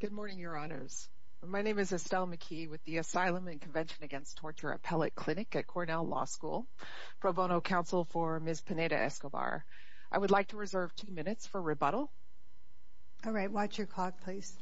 Good morning, your honors. My name is Estelle McKee with the Asylum and Convention Against Torture Appellate Clinic at Cornell Law School. Pro bono counsel for Ms. Pineda Escobar. I would like to reserve two minutes for rebuttal. All right, watch your clock, please.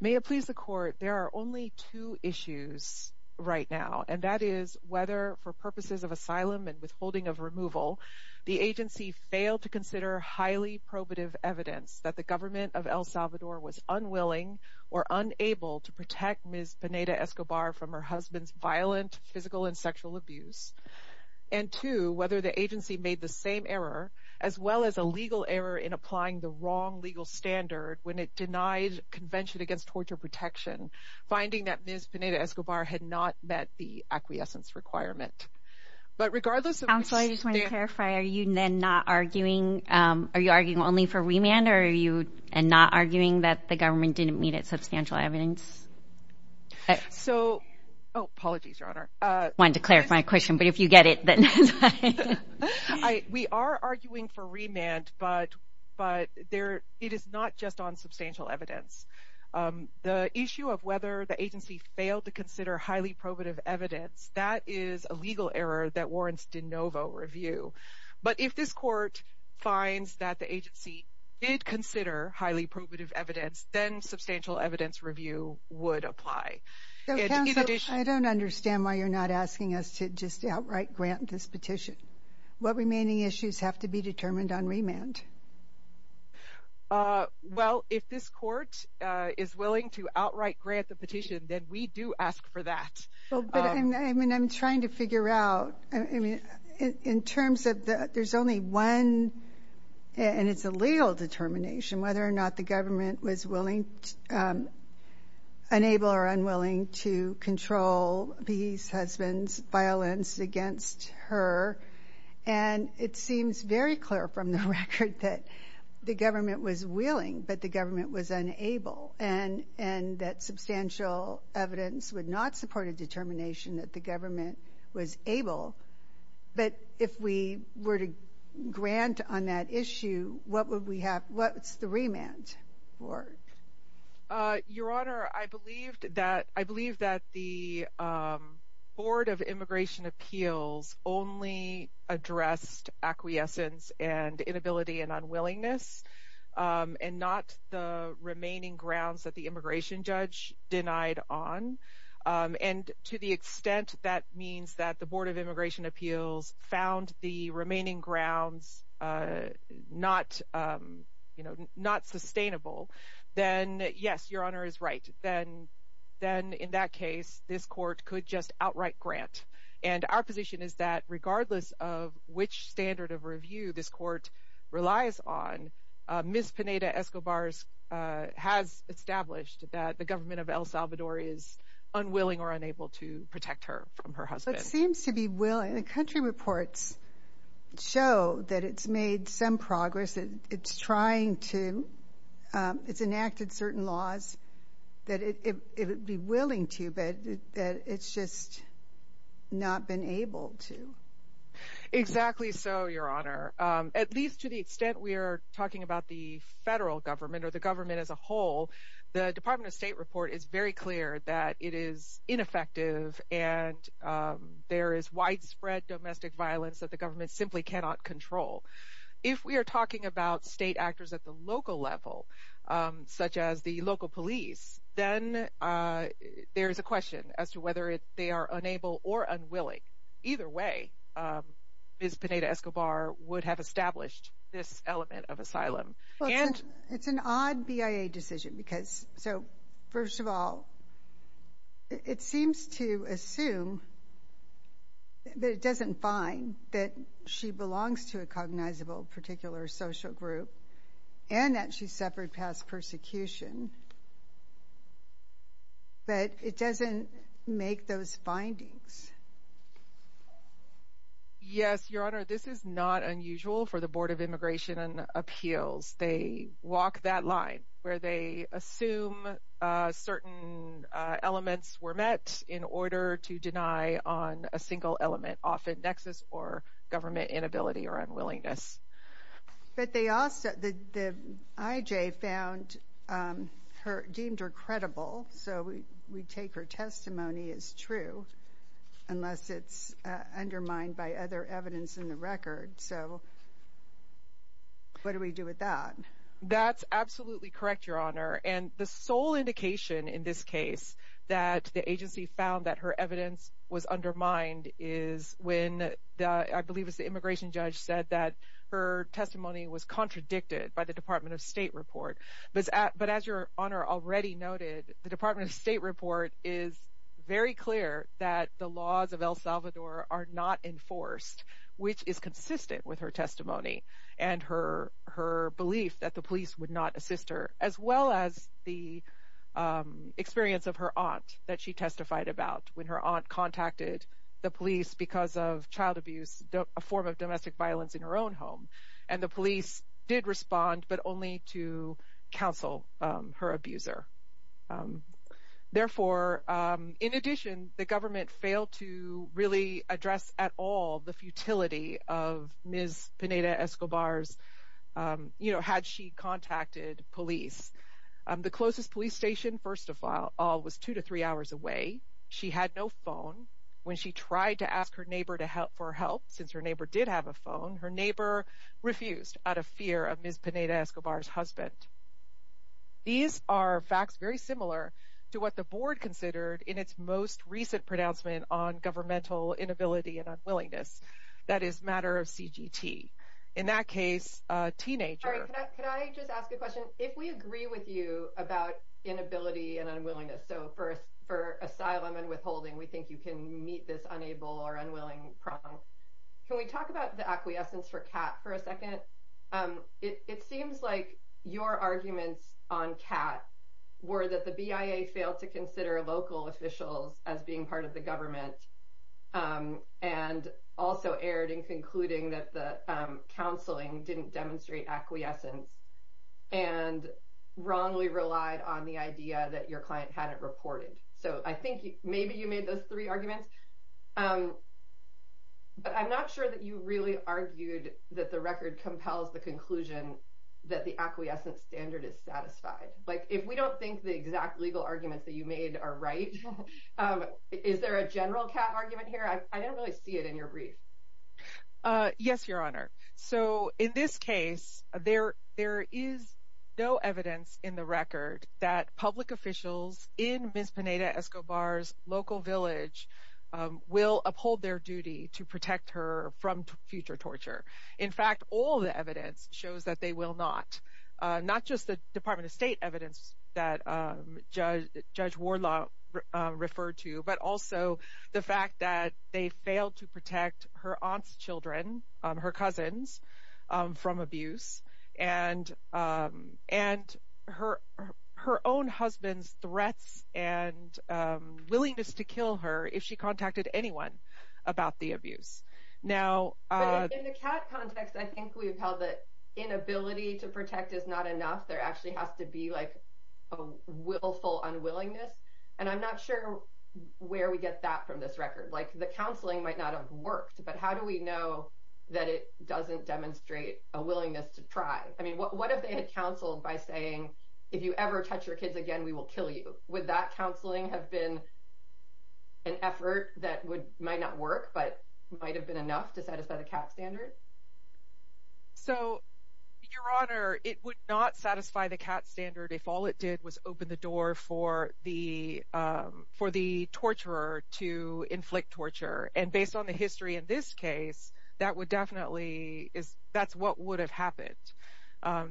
May it please the court, there are only two issues right now, and that is whether for purposes of asylum and withholding of removal, the agency failed to consider highly probative evidence that the government of El Salvador was unwilling or unable to protect Ms. Pineda Escobar from her husband's violent physical and sexual abuse, and two, whether the agency made the same error as well as a legal error in applying the wrong legal standard when it denied Convention Against Torture Protection, finding that Ms. Pineda Escobar had not met the acquiescence requirement. But regardless of... Counsel, I just want to clarify, are you not arguing, are you not arguing that the government didn't meet its substantial evidence? So, oh, apologies, your honor. I wanted to clarify my question, but if you get it... We are arguing for remand, but it is not just on substantial evidence. The issue of whether the agency failed to consider highly probative evidence, that is a legal error that warrants de novo review. But if this court finds that the agency did consider highly probative evidence, then substantial evidence review would apply. Counsel, I don't understand why you're not asking us to just outright grant this petition. What remaining issues have to be determined on remand? Well, if this court is willing to outright grant the petition, then we do ask for that. I mean, I'm trying to figure out, I mean, in terms of the... there's only one, and it's a legal determination, whether or not the government was willing... unable or unwilling to control the husband's violence against her. And it seems very clear from the record that the government was willing, but the government was unable. And that substantial evidence would not support a determination that the government was able. But if we were to grant on that issue, what would we have... what's the remand for? Your Honor, I believed that... I believe that the Board of Immigration Appeals only addressed acquiescence and inability and unwillingness, and not the remaining grounds that the immigration judge denied on. And to the extent that means that the Board of Immigration Appeals found the remaining grounds not, you know, not sustainable, then yes, Your Honor is right. Then in that case, this court could just outright grant. And our position is that regardless of which standard of review this court relies on, Ms. Pineda- El Salvador is unwilling or unable to protect her from her husband. It seems to be willing. The country reports show that it's made some progress. It's trying to. It's enacted certain laws that it would be willing to, but it's just not been able to. Exactly so, Your Honor. At least to the extent we are talking about the federal government or the government as a whole, the Department of State report is very clear that it is ineffective and there is widespread domestic violence that the government simply cannot control. If we are talking about state actors at the local level, such as the local police, then there is a question as to whether they are unable or unwilling. Either way, Ms. Pineda- Escobar would have established this element of asylum. It's an odd BIA decision because, first of all, it seems to assume that it doesn't find that she belongs to a cognizable particular social group and that she suffered past persecution, but it doesn't make those findings. Yes, Your Honor. This is not unusual for the Board of Immigration and Appeals. They walk that line where they assume certain elements were met in order to deny on a single element, often nexus or government inability or unwillingness. But they also, the IJ found her, deemed her credible, so we take her testimony as true, unless it's undermined by other evidence in the record. So what do we do with that? That's absolutely correct, Your Honor. And the sole indication in this case that the agency found that her evidence was undermined is when, I believe it was the immigration judge said that her testimony was contradicted by the Department of State report. But as Your Honor already noted, the Department of State report is very clear that the laws of El Salvador are not enforced, which is consistent with her testimony and her belief that the police would not assist her, as well as the experience of her aunt that she testified about when her aunt contacted the police because of child abuse, a form of domestic violence in her own home. And the police did respond, but only to counsel her abuser. Therefore, in addition, the government failed to really address at all the futility of Ms. Pineda-Escobar's, you know, had she contacted police. The closest police station, first of all, was two to three hours away. She had no phone. When she tried to ask her neighbor for help, since her neighbor did have a phone, her neighbor refused out of fear of Ms. Pineda-Escobar's husband. These are facts very similar to what the board considered in its most recent pronouncement on governmental inability and unwillingness, that is, matter of CGT. In that case, a teenager... Sorry, could I just ask a question? If we agree with you about inability and unwillingness, so for asylum and withholding, we think you can meet this unable or unwilling problem. Can we talk about the acquiescence for Kat for a minute? The three arguments were that the BIA failed to consider local officials as being part of the government, and also erred in concluding that the counseling didn't demonstrate acquiescence, and wrongly relied on the idea that your client hadn't reported. So I think maybe you made those three arguments. But I'm not sure that you really argued that the record compels the conclusion that the exact legal arguments that you made are right. Is there a general Kat argument here? I don't really see it in your brief. Yes, Your Honor. So in this case, there is no evidence in the record that public officials in Ms. Pineda-Escobar's local village will uphold their duty to protect her from future torture. In fact, all the evidence shows that they will not. Not just the Department of State evidence that Judge Wardlaw referred to, but also the fact that they failed to protect her aunt's children, her cousins, from abuse, and her own husband's threats and willingness to kill her if she contacted anyone about the abuse. In the Kat context, I think we've held that inability to protect is not enough. There actually has to be a willful unwillingness. And I'm not sure where we get that from this record. The counseling might not have worked, but how do we know that it doesn't demonstrate a willingness to try? What if they had counseled by saying, if you ever touch your kids again, we will kill you? Would that counseling have been an effort that might not work, but might have been enough to satisfy the Kat standard? So, Your Honor, it would not satisfy the Kat standard if all it did was open the door for the torturer to inflict torture. And based on the history in this case, that's what would have happened.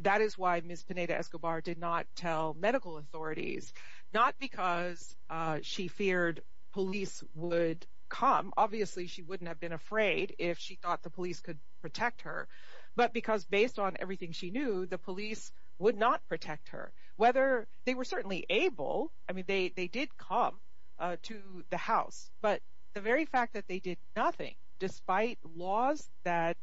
That is why Ms. Pineda-Escobar did not tell medical authorities, not because she feared police would come. Obviously, she wouldn't have been afraid if she thought the police could protect her. But because based on everything she knew, the police would not protect her. Whether they were certainly able, I mean, they did come to the house. But the very fact that they did nothing, despite laws that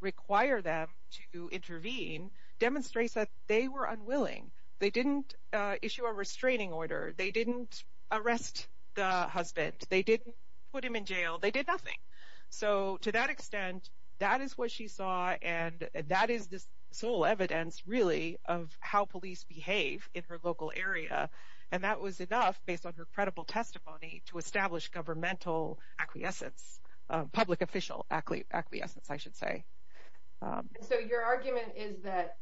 require them to intervene, demonstrates that they were unwilling. They didn't issue a restraining order. They didn't arrest the husband. They didn't put him in jail. They did nothing. So, to that extent, that is what she saw, and that is the sole evidence, really, of how police behave in her local area. And that was enough, based on her credible testimony, to establish governmental acquiescence, public official acquiescence, I should say. And so your argument is that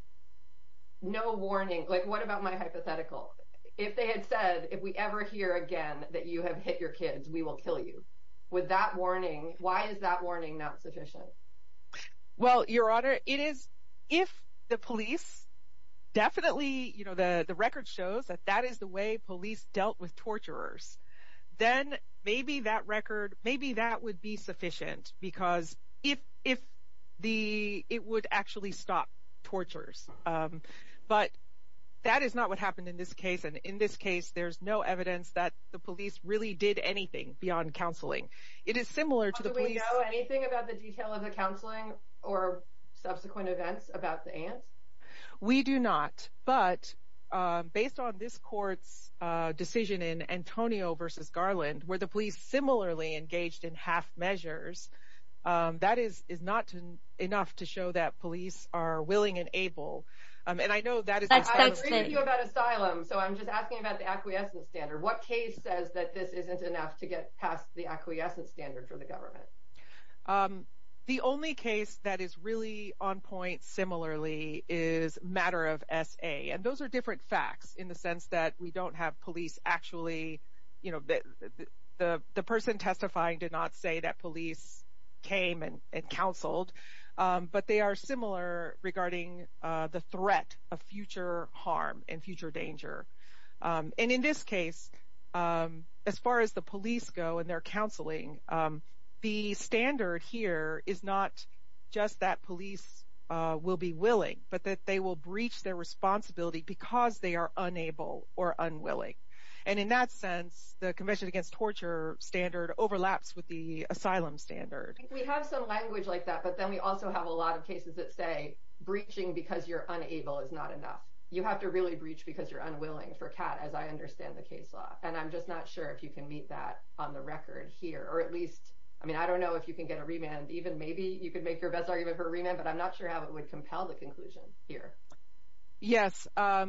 no warning, like what about my hypothetical? If they had said, if we ever hear again that you have hit your kids, we will kill you. With that warning, why is that warning not sufficient? Well, Your Honor, it is, if the police definitely, you know, the record shows that that is the way police dealt with torturers, then maybe that record, maybe that would be sufficient, because if the, it would actually stop tortures. But that is not what happened in this case. And in this case, there's no evidence that the police really did anything beyond counseling. It is similar to the police... Do we know anything about the detail of the counseling or subsequent events about the aunts? We do not. But based on this court's decision in Antonio v. Garland, where the police were given half measures, that is not enough to show that police are willing and able. And I know that is... I'm reading you about asylum, so I'm just asking about the acquiescence standard. What case says that this isn't enough to get past the acquiescence standard for the government? The only case that is really on point similarly is Matter of S.A. And those are different facts in the sense that we don't have police actually, you know, the person testifying did not say that police came and counseled. But they are similar regarding the threat of future harm and future danger. And in this case, as far as the police go and their counseling, the standard here is not just that police will be willing, but that they will breach their responsibility because they are unable or unwilling. And in that sense, the Convention Against Torture standard overlaps with the asylum standard. We have some language like that. But then we also have a lot of cases that say breaching because you're unable is not enough. You have to really breach because you're unwilling, for Kat, as I understand the case law. And I'm just not sure if you can meet that on the record here, or at least, I mean, I don't know if you can get a remand. Even maybe you could make your best argument for a remand, but I'm not sure how it would compel the conclusion here. Yes, our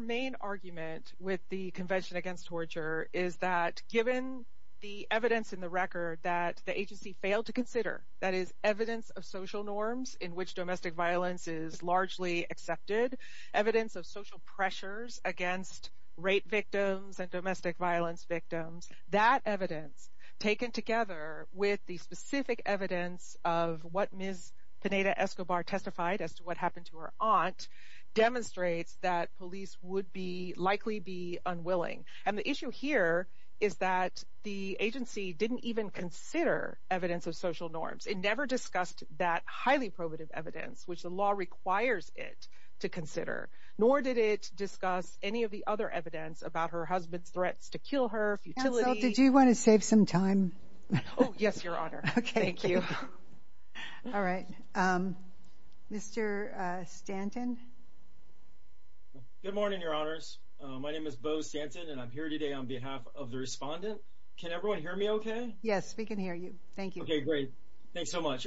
main argument with the Convention Against Torture is that given the evidence in the record that the agency failed to consider, that is evidence of social norms in which domestic violence is largely accepted, evidence of social pressures against rape victims and domestic violence victims, that evidence taken together with the specific evidence of what Ms. Pineda-Escobar testified as to what happened to her aunt demonstrates that police would be likely be unwilling. And the issue here is that the agency didn't even consider evidence of social norms. It never discussed that highly probative evidence, which the law requires it to consider, nor did it discuss any of the other evidence about her husband's threats to kill her, futility. Counsel, did you want to save some time? Oh, yes, Your Honor. Okay, thank you. All right. Mr. Stanton. Good morning, Your Honors. My name is Beau Stanton, and I'm here today on behalf of the respondent. Can everyone hear me OK? Yes, we can hear you. Thank you. OK, great. Thanks so much.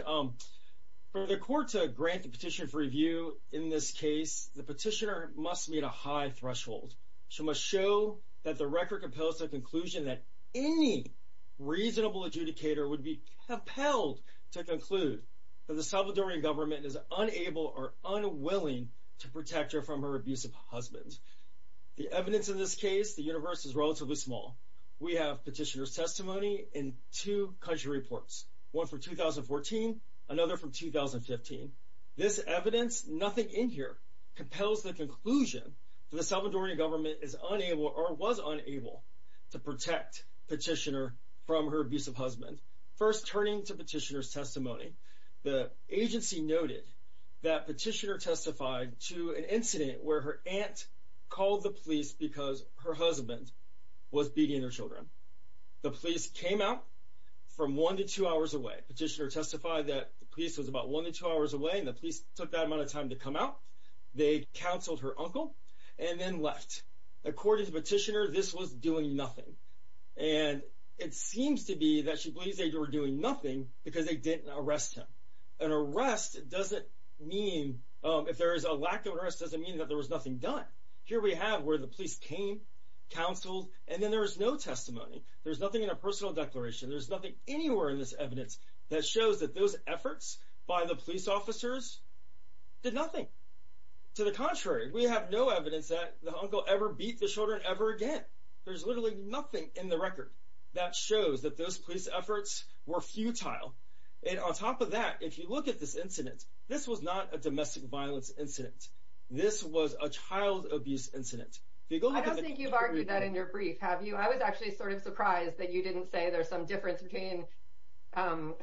For the court to grant the petitioner's review in this case, the petitioner must meet a high threshold. She must show that the record compels the conclusion that any reasonable adjudicator would be compelled to conclude that the Salvadorian government is unable or unwilling to protect her from her abusive husband. The evidence in this case, the universe is relatively small. We have petitioner's testimony in two country reports, one for 2014, another from 2015. This evidence, nothing in here, compels the conclusion that the Salvadorian government is unable or was unable to protect petitioner from her abusive husband. First, turning to petitioner's testimony, the agency noted that petitioner testified to an incident where her aunt called the police because her husband was beating her children. The police came out from one to two hours away. Petitioner testified that the police was about one to two hours away and the police took that amount of time to come out. They counseled her uncle and then left. According to petitioner, this was doing nothing. And it seems to be that she believes they were doing nothing because they didn't arrest him. An arrest doesn't mean, if there is a lack of arrest, doesn't mean that there was nothing done. Here we have where the police came, counseled, and then there is no testimony. There's nothing in a personal declaration. There's nothing anywhere in this evidence that shows that those efforts by the police officers did nothing. To the contrary, we have no evidence that the uncle ever beat the children ever again. There's literally nothing in the record that shows that those police efforts were futile. And on top of that, if you look at this incident, this was not a domestic violence incident. This was a child abuse incident. I don't think you've argued that in your brief, have you? I was actually sort of surprised that you didn't say there's some difference between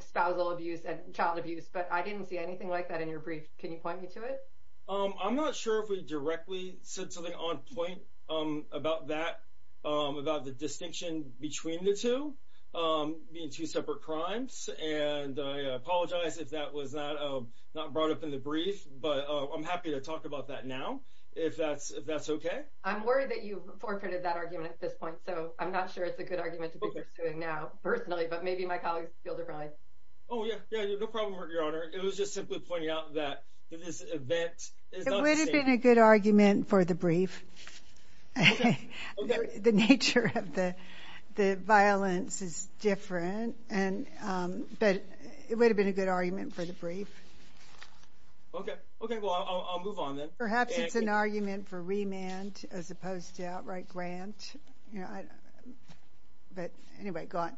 spousal abuse and child abuse, but I didn't see anything like that in your brief. Can you point me to it? I'm not sure if we directly said something on point about that. About the distinction between the two being two separate crimes. And I apologize if that was not brought up in the brief, but I'm happy to talk about that now if that's if that's OK. I'm worried that you forfeited that argument at this point. So I'm not sure it's a good argument to be pursuing now personally, but maybe my colleagues feel differently. Oh, yeah. Yeah. No problem, Your Honor. It was just simply pointing out that this event would have been a good argument for the brief. The nature of the the violence is different and but it would have been a good argument for the brief. OK, OK, well, I'll move on then. Perhaps it's an argument for remand as opposed to outright grant. But anyway, go on.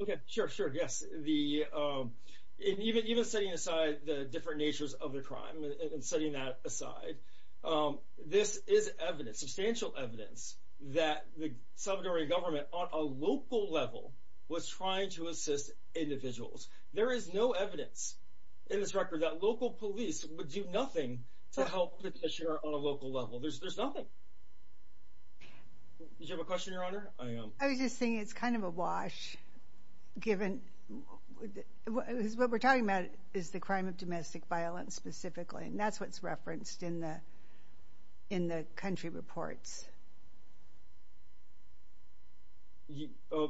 OK, sure, sure. Yes. The even even setting aside the different natures of the crime and setting that aside. This is evidence, substantial evidence that the Salvadorian government on a local level was trying to assist individuals. There is no evidence in this record that local police would do nothing to help petitioner on a local level. There's there's nothing. You have a question, Your Honor. I was just saying it's kind of a wash given what we're talking about is the crime of in the in the country reports.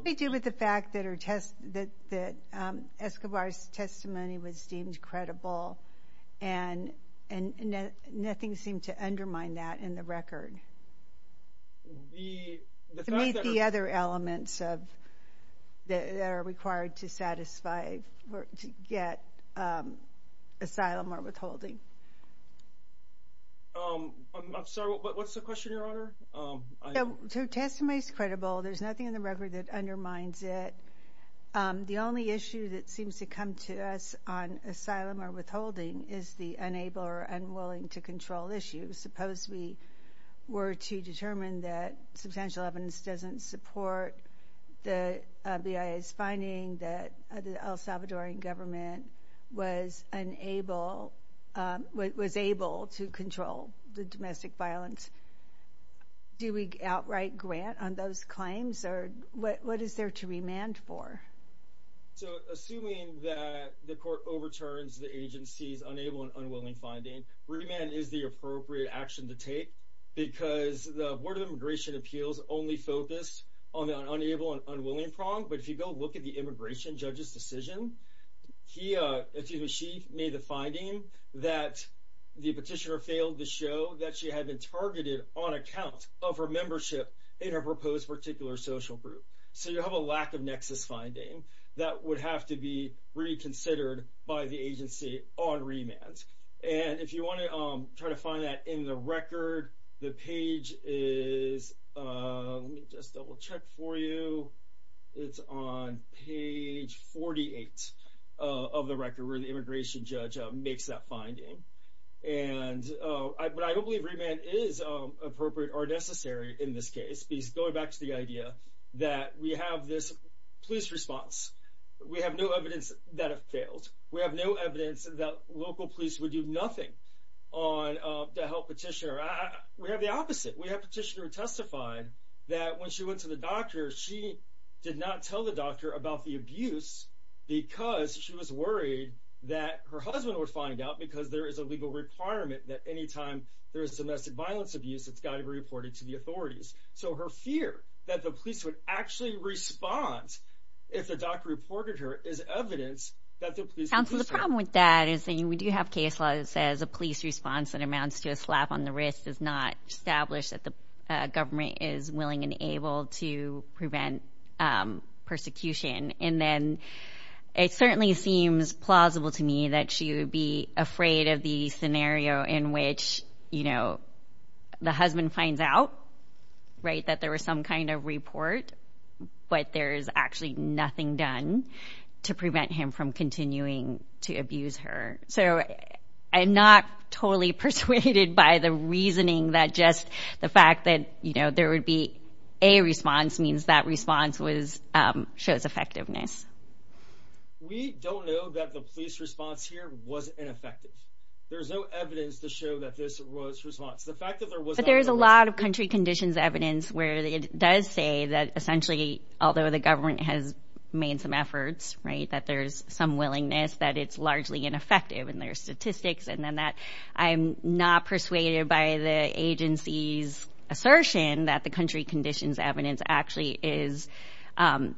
We deal with the fact that our test that that Escobar's testimony was deemed credible and and nothing seemed to undermine that in the record. The other elements of that are required to satisfy or to get asylum or withholding. I'm sorry, but what's the question, Your Honor? To test my credible, there's nothing in the record that undermines it. The only issue that seems to come to us on asylum or withholding is the unable or unwilling to control issue. Suppose we were to determine that substantial evidence doesn't support the BIA's finding that the El Salvadorian government was unable, was able to control the domestic violence. Do we outright grant on those claims or what is there to remand for? So assuming that the court overturns the agency's unable and unwilling finding, remand is the appropriate action to take because the Board of Immigration Appeals only focused on the unable and unwilling problem. But if you go look at the immigration judge's decision, he or she made the finding that the petitioner failed to show that she had been targeted on account of her membership in her proposed particular social group. So you have a lack of nexus finding that would have to be reconsidered by the agency on remand. And if you want to try to find that in the record, the page is, let me just double check for you, it's on page 48 of the record where the immigration judge makes that decision. But I don't believe remand is appropriate or necessary in this case, going back to the idea that we have this police response. We have no evidence that it failed. We have no evidence that local police would do nothing to help petitioner. We have the opposite. We have petitioner who testified that when she went to the doctor, she did not tell the doctor about the abuse because she was worried that her husband would have a legal requirement that any time there is domestic violence abuse, it's got to be reported to the authorities. So her fear that the police would actually respond if the doctor reported her is evidence that the police... Counsel, the problem with that is that we do have case law that says a police response that amounts to a slap on the wrist does not establish that the government is willing and able to prevent persecution. And then it certainly seems plausible to me that she would be afraid of the scenario in which, you know, the husband finds out, right, that there was some kind of report, but there is actually nothing done to prevent him from continuing to abuse her. So I'm not totally persuaded by the reasoning that just the fact that, you know, there would be a response means that response shows effectiveness. We don't know that the police response here was ineffective. There's no evidence to show that this was response. The fact that there was... But there's a lot of country conditions evidence where it does say that essentially, although the government has made some efforts, right, that there's some willingness that it's largely ineffective in their statistics. And then that I'm not persuaded by the agency's assertion that the country conditions evidence actually is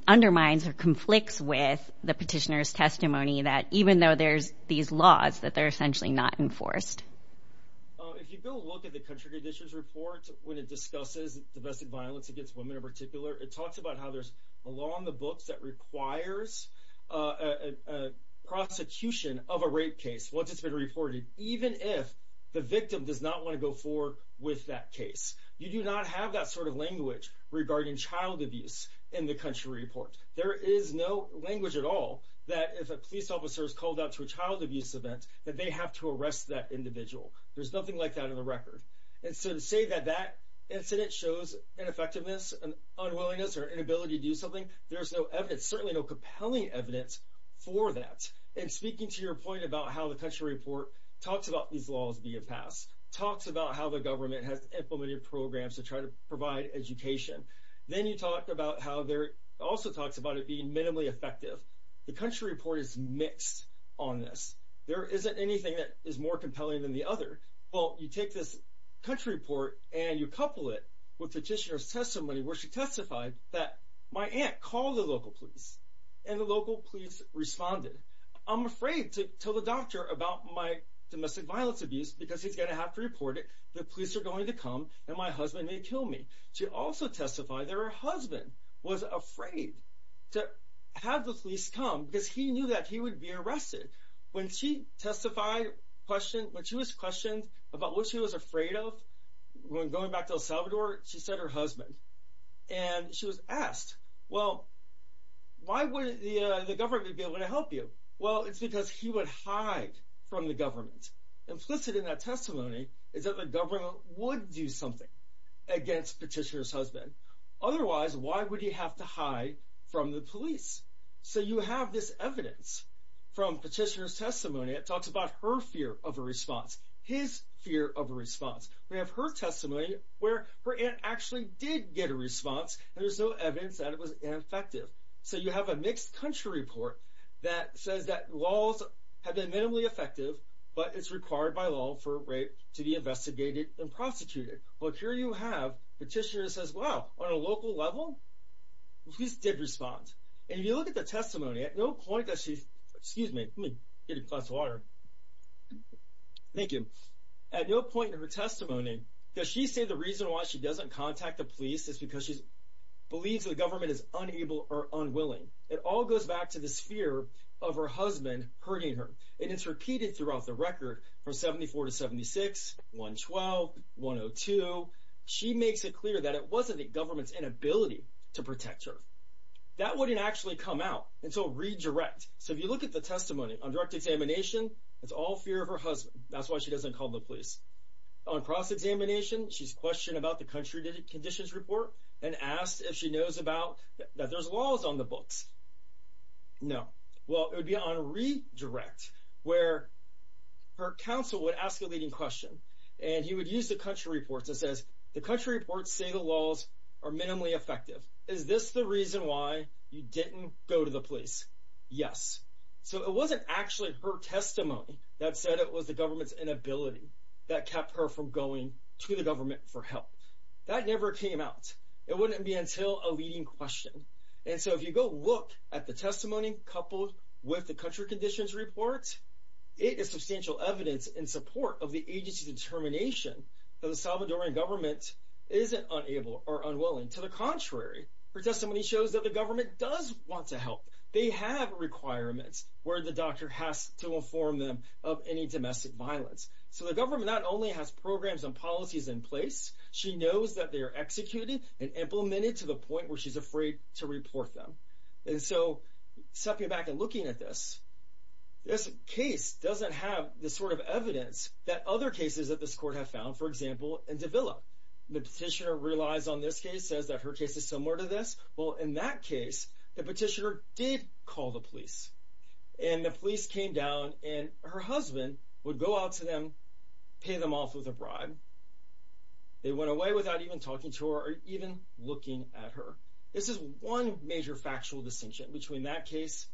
undermines or conflicts with the petitioner's testimony that even though there's these laws that they're essentially not enforced. If you go look at the country conditions report, when it discusses domestic violence against women in particular, it talks about how there's a law in the books that requires a prosecution of a rape case once it's been reported, even if the victim does not want to go forward with that case. You do not have that sort of language regarding child abuse in the country report. There is no language at all that if a police officer is called out to a child abuse event that they have to arrest that individual. There's nothing like that in the record. And so to say that that incident shows ineffectiveness and unwillingness or inability to do something, there's no evidence, certainly no compelling evidence for that. And speaking to your point about how the country report talks about these laws being passed, talks about how the government has implemented programs to try to provide education, then you talk about how there also talks about it being minimally effective. The country report is mixed on this. There isn't anything that is more compelling than the other. Well, you take this country report and you couple it with petitioner's testimony where she testified that my aunt called the local police and the local police responded. I'm afraid to tell the doctor about my domestic violence abuse because he's going to have to report it. The police are going to come and my husband may kill me. She also testified that her husband was afraid to have the police come because he knew that he would be arrested. When she testified, when she was questioned about what she was afraid of when going back to El Salvador, she said her husband and she was asked, well, why would the government be able to help you? Well, it's because he would hide from the government. Implicit in that testimony is that the government would do something against petitioner's husband. Otherwise, why would he have to hide from the police? So you have this evidence from petitioner's testimony. It talks about her fear of a response, his fear of a response. We have her testimony where her aunt actually did get a response and there's no evidence that it was ineffective. So you have a mixed country report that says that laws have been minimally effective, but it's required by law for rape to be investigated and prosecuted. Well, here you have petitioner says, well, on a local level, police did respond. And if you look at the testimony, at no point does she, excuse me, let me get a glass of does she say the reason why she doesn't contact the police is because she believes the government is unable or unwilling. It all goes back to this fear of her husband hurting her. And it's repeated throughout the record from 74 to 76, 112, 102. She makes it clear that it wasn't the government's inability to protect her. That wouldn't actually come out until redirect. So if you look at the testimony on direct examination, it's all fear of her husband. That's why she doesn't call the police on cross-examination. She's questioned about the country conditions report and asked if she knows about that there's laws on the books. No. Well, it would be on redirect where her counsel would ask a leading question and he would use the country reports and says the country reports say the laws are minimally effective. Is this the reason why you didn't go to the police? Yes. So it wasn't actually her testimony. That said, it was the government's inability that kept her from going to the government for help. That never came out. It wouldn't be until a leading question. And so if you go look at the testimony coupled with the country conditions report, it is substantial evidence in support of the agency's determination that the Salvadoran government isn't unable or unwilling. To the contrary, her testimony shows that the government does want to help. They have requirements where the doctor has to inform them of any domestic violence. So the government not only has programs and policies in place, she knows that they are executed and implemented to the point where she's afraid to report them. And so stepping back and looking at this, this case doesn't have the sort of evidence that other cases that this court have found, for example, in Davila. The petitioner relies on this case, says that her case is similar to this. Well, in that case, the petitioner did call the police and the police came down and her husband would go out to them, pay them off with a bribe. They went away without even talking to her or even looking at her. This is one major factual distinction between that case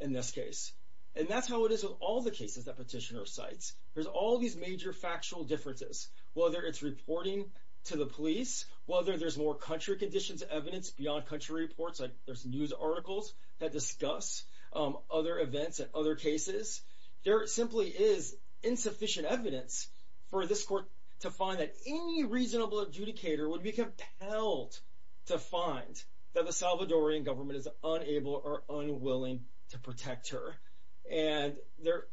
and this case. And that's how it is with all the cases that petitioner cites. There's all these major factual differences, whether it's reporting to the police, whether there's more country conditions, evidence beyond country reports. There's news articles that discuss other events and other cases. There simply is insufficient evidence for this court to find that any reasonable adjudicator would be compelled to find that the Salvadorian government is unable or unwilling to protect her. And there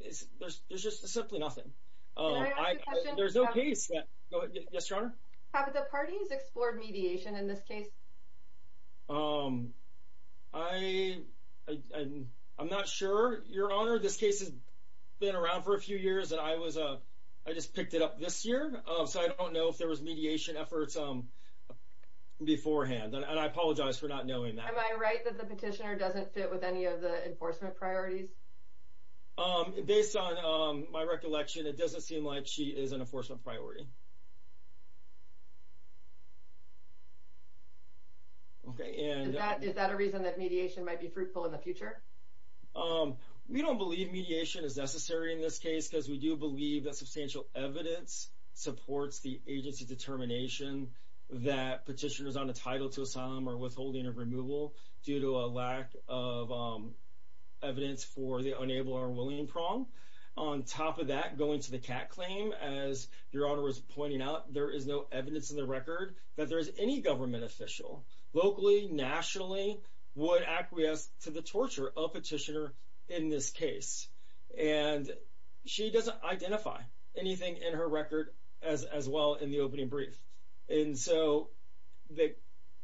is there's just simply nothing. There's no case that. Yes, your honor. Have the parties explored mediation in this case? I I'm not sure, your honor, this case has been around for a few years and I was I just picked it up this year, so I don't know if there was mediation efforts beforehand and I apologize for not knowing that. Am I right that the petitioner doesn't fit with any of the enforcement priorities? Based on my recollection, it doesn't seem like she is an enforcement priority. OK, and that is that a reason that mediation might be fruitful in the future? We don't believe mediation is necessary in this case because we do believe that substantial evidence supports the agency determination that petitioners on a title to asylum or withholding of removal due to a lack of evidence for the unable or willing prong. On top of that, going to the cat claim, as your honor was pointing out, there is no evidence in the record that there is any government official locally, nationally would acquiesce to the torture of petitioner in this case. And she doesn't identify anything in her record as well in the opening brief. And so the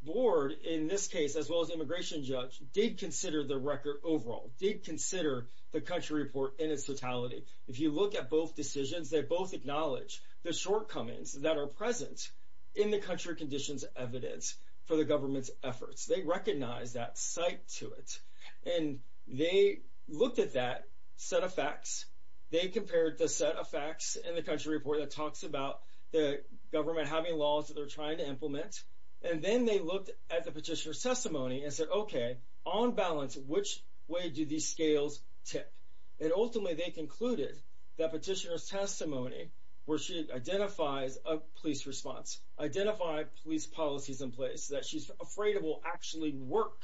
board in this case, as well as immigration judge, did consider the record overall, did consider the country report in its totality. If you look at both decisions, they both acknowledge the shortcomings that are present in the country conditions evidence for the government's efforts. They recognize that site to it. And they looked at that set of facts. They compared the set of facts in the country report that talks about the government having laws that they're trying to implement. And then they looked at the petitioner's testimony and said, OK, on balance, which way do these scales tip? And ultimately, they concluded that petitioner's testimony where she identifies a police response, identify police policies in place that she's afraid of will actually work.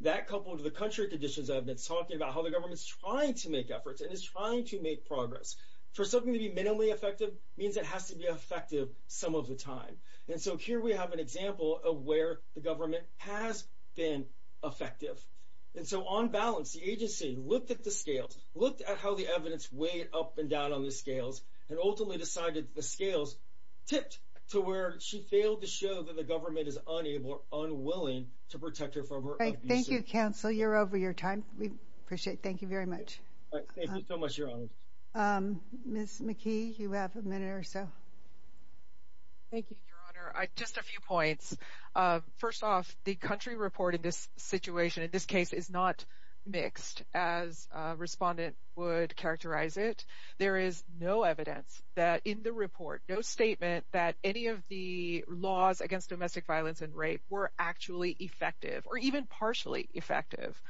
That couple of the country conditions evidence talking about how the government's trying to make efforts and is trying to make progress for something to be minimally effective means it has to be effective some of the time. And so here we have an example of where the government has been effective. And so on balance, the agency looked at the scales, looked at how the evidence weighed up and down on the scales and ultimately decided the scales tipped to where she failed to show that the government is unable or unwilling to protect her from her. Thank you, counsel. You're over your time. We appreciate. Thank you very much. Thank you so much, Your Honor. Miss McKee, you have a minute or so. Thank you, Your Honor. I just a few points. First off, the country reporting this situation in this case is not mixed, as a respondent would characterize it. There is no evidence that in the report, no statement that any of the laws against domestic violence and rape were actually effective or even partially effective.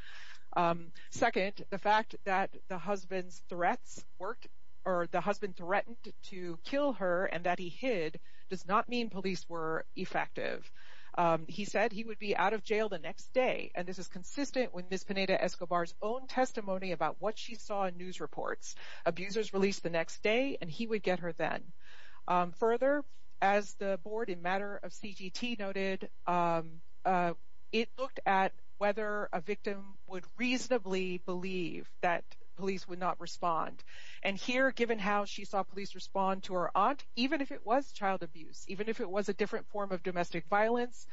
Second, the fact that the husband's threats worked or the husband threatened to kill her and that he hid does not mean police were effective. He said he would be out of jail the next day. And this is consistent with Miss Pineda-Escobar's own testimony about what she saw in news reports. Abusers released the next day and he would get her then. Further, as the board in matter of CGT noted, it looked at whether a victim would reasonably believe that police would not respond. And here, given how she saw police respond to her aunt, even if it was child abuse, even if it was a different form of domestic violence,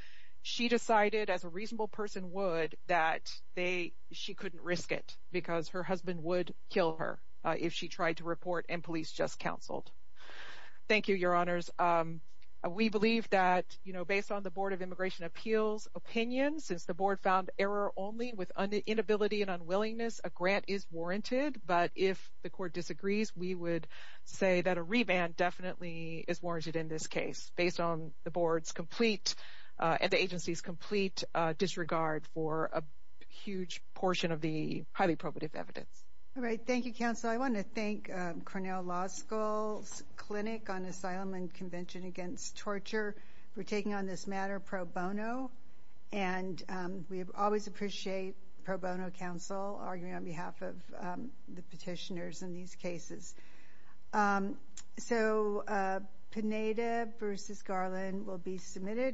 she decided as a reasonable person would that they she couldn't risk it because her husband would kill her if she tried to report and police just counseled. Thank you, Your Honors. We believe that, you know, based on the Board of Immigration Appeals opinion, since the board found error only with inability and unwillingness, a court disagrees. We would say that a reband definitely is warranted in this case based on the board's complete and the agency's complete disregard for a huge portion of the highly probative evidence. All right. Thank you, counsel. I want to thank Cornell Law School's Clinic on Asylum and Convention Against Torture for taking on this matter pro bono. And we always appreciate pro bono counsel arguing on behalf of the petitioners in these cases. So Pineda v. Garland will be submitted.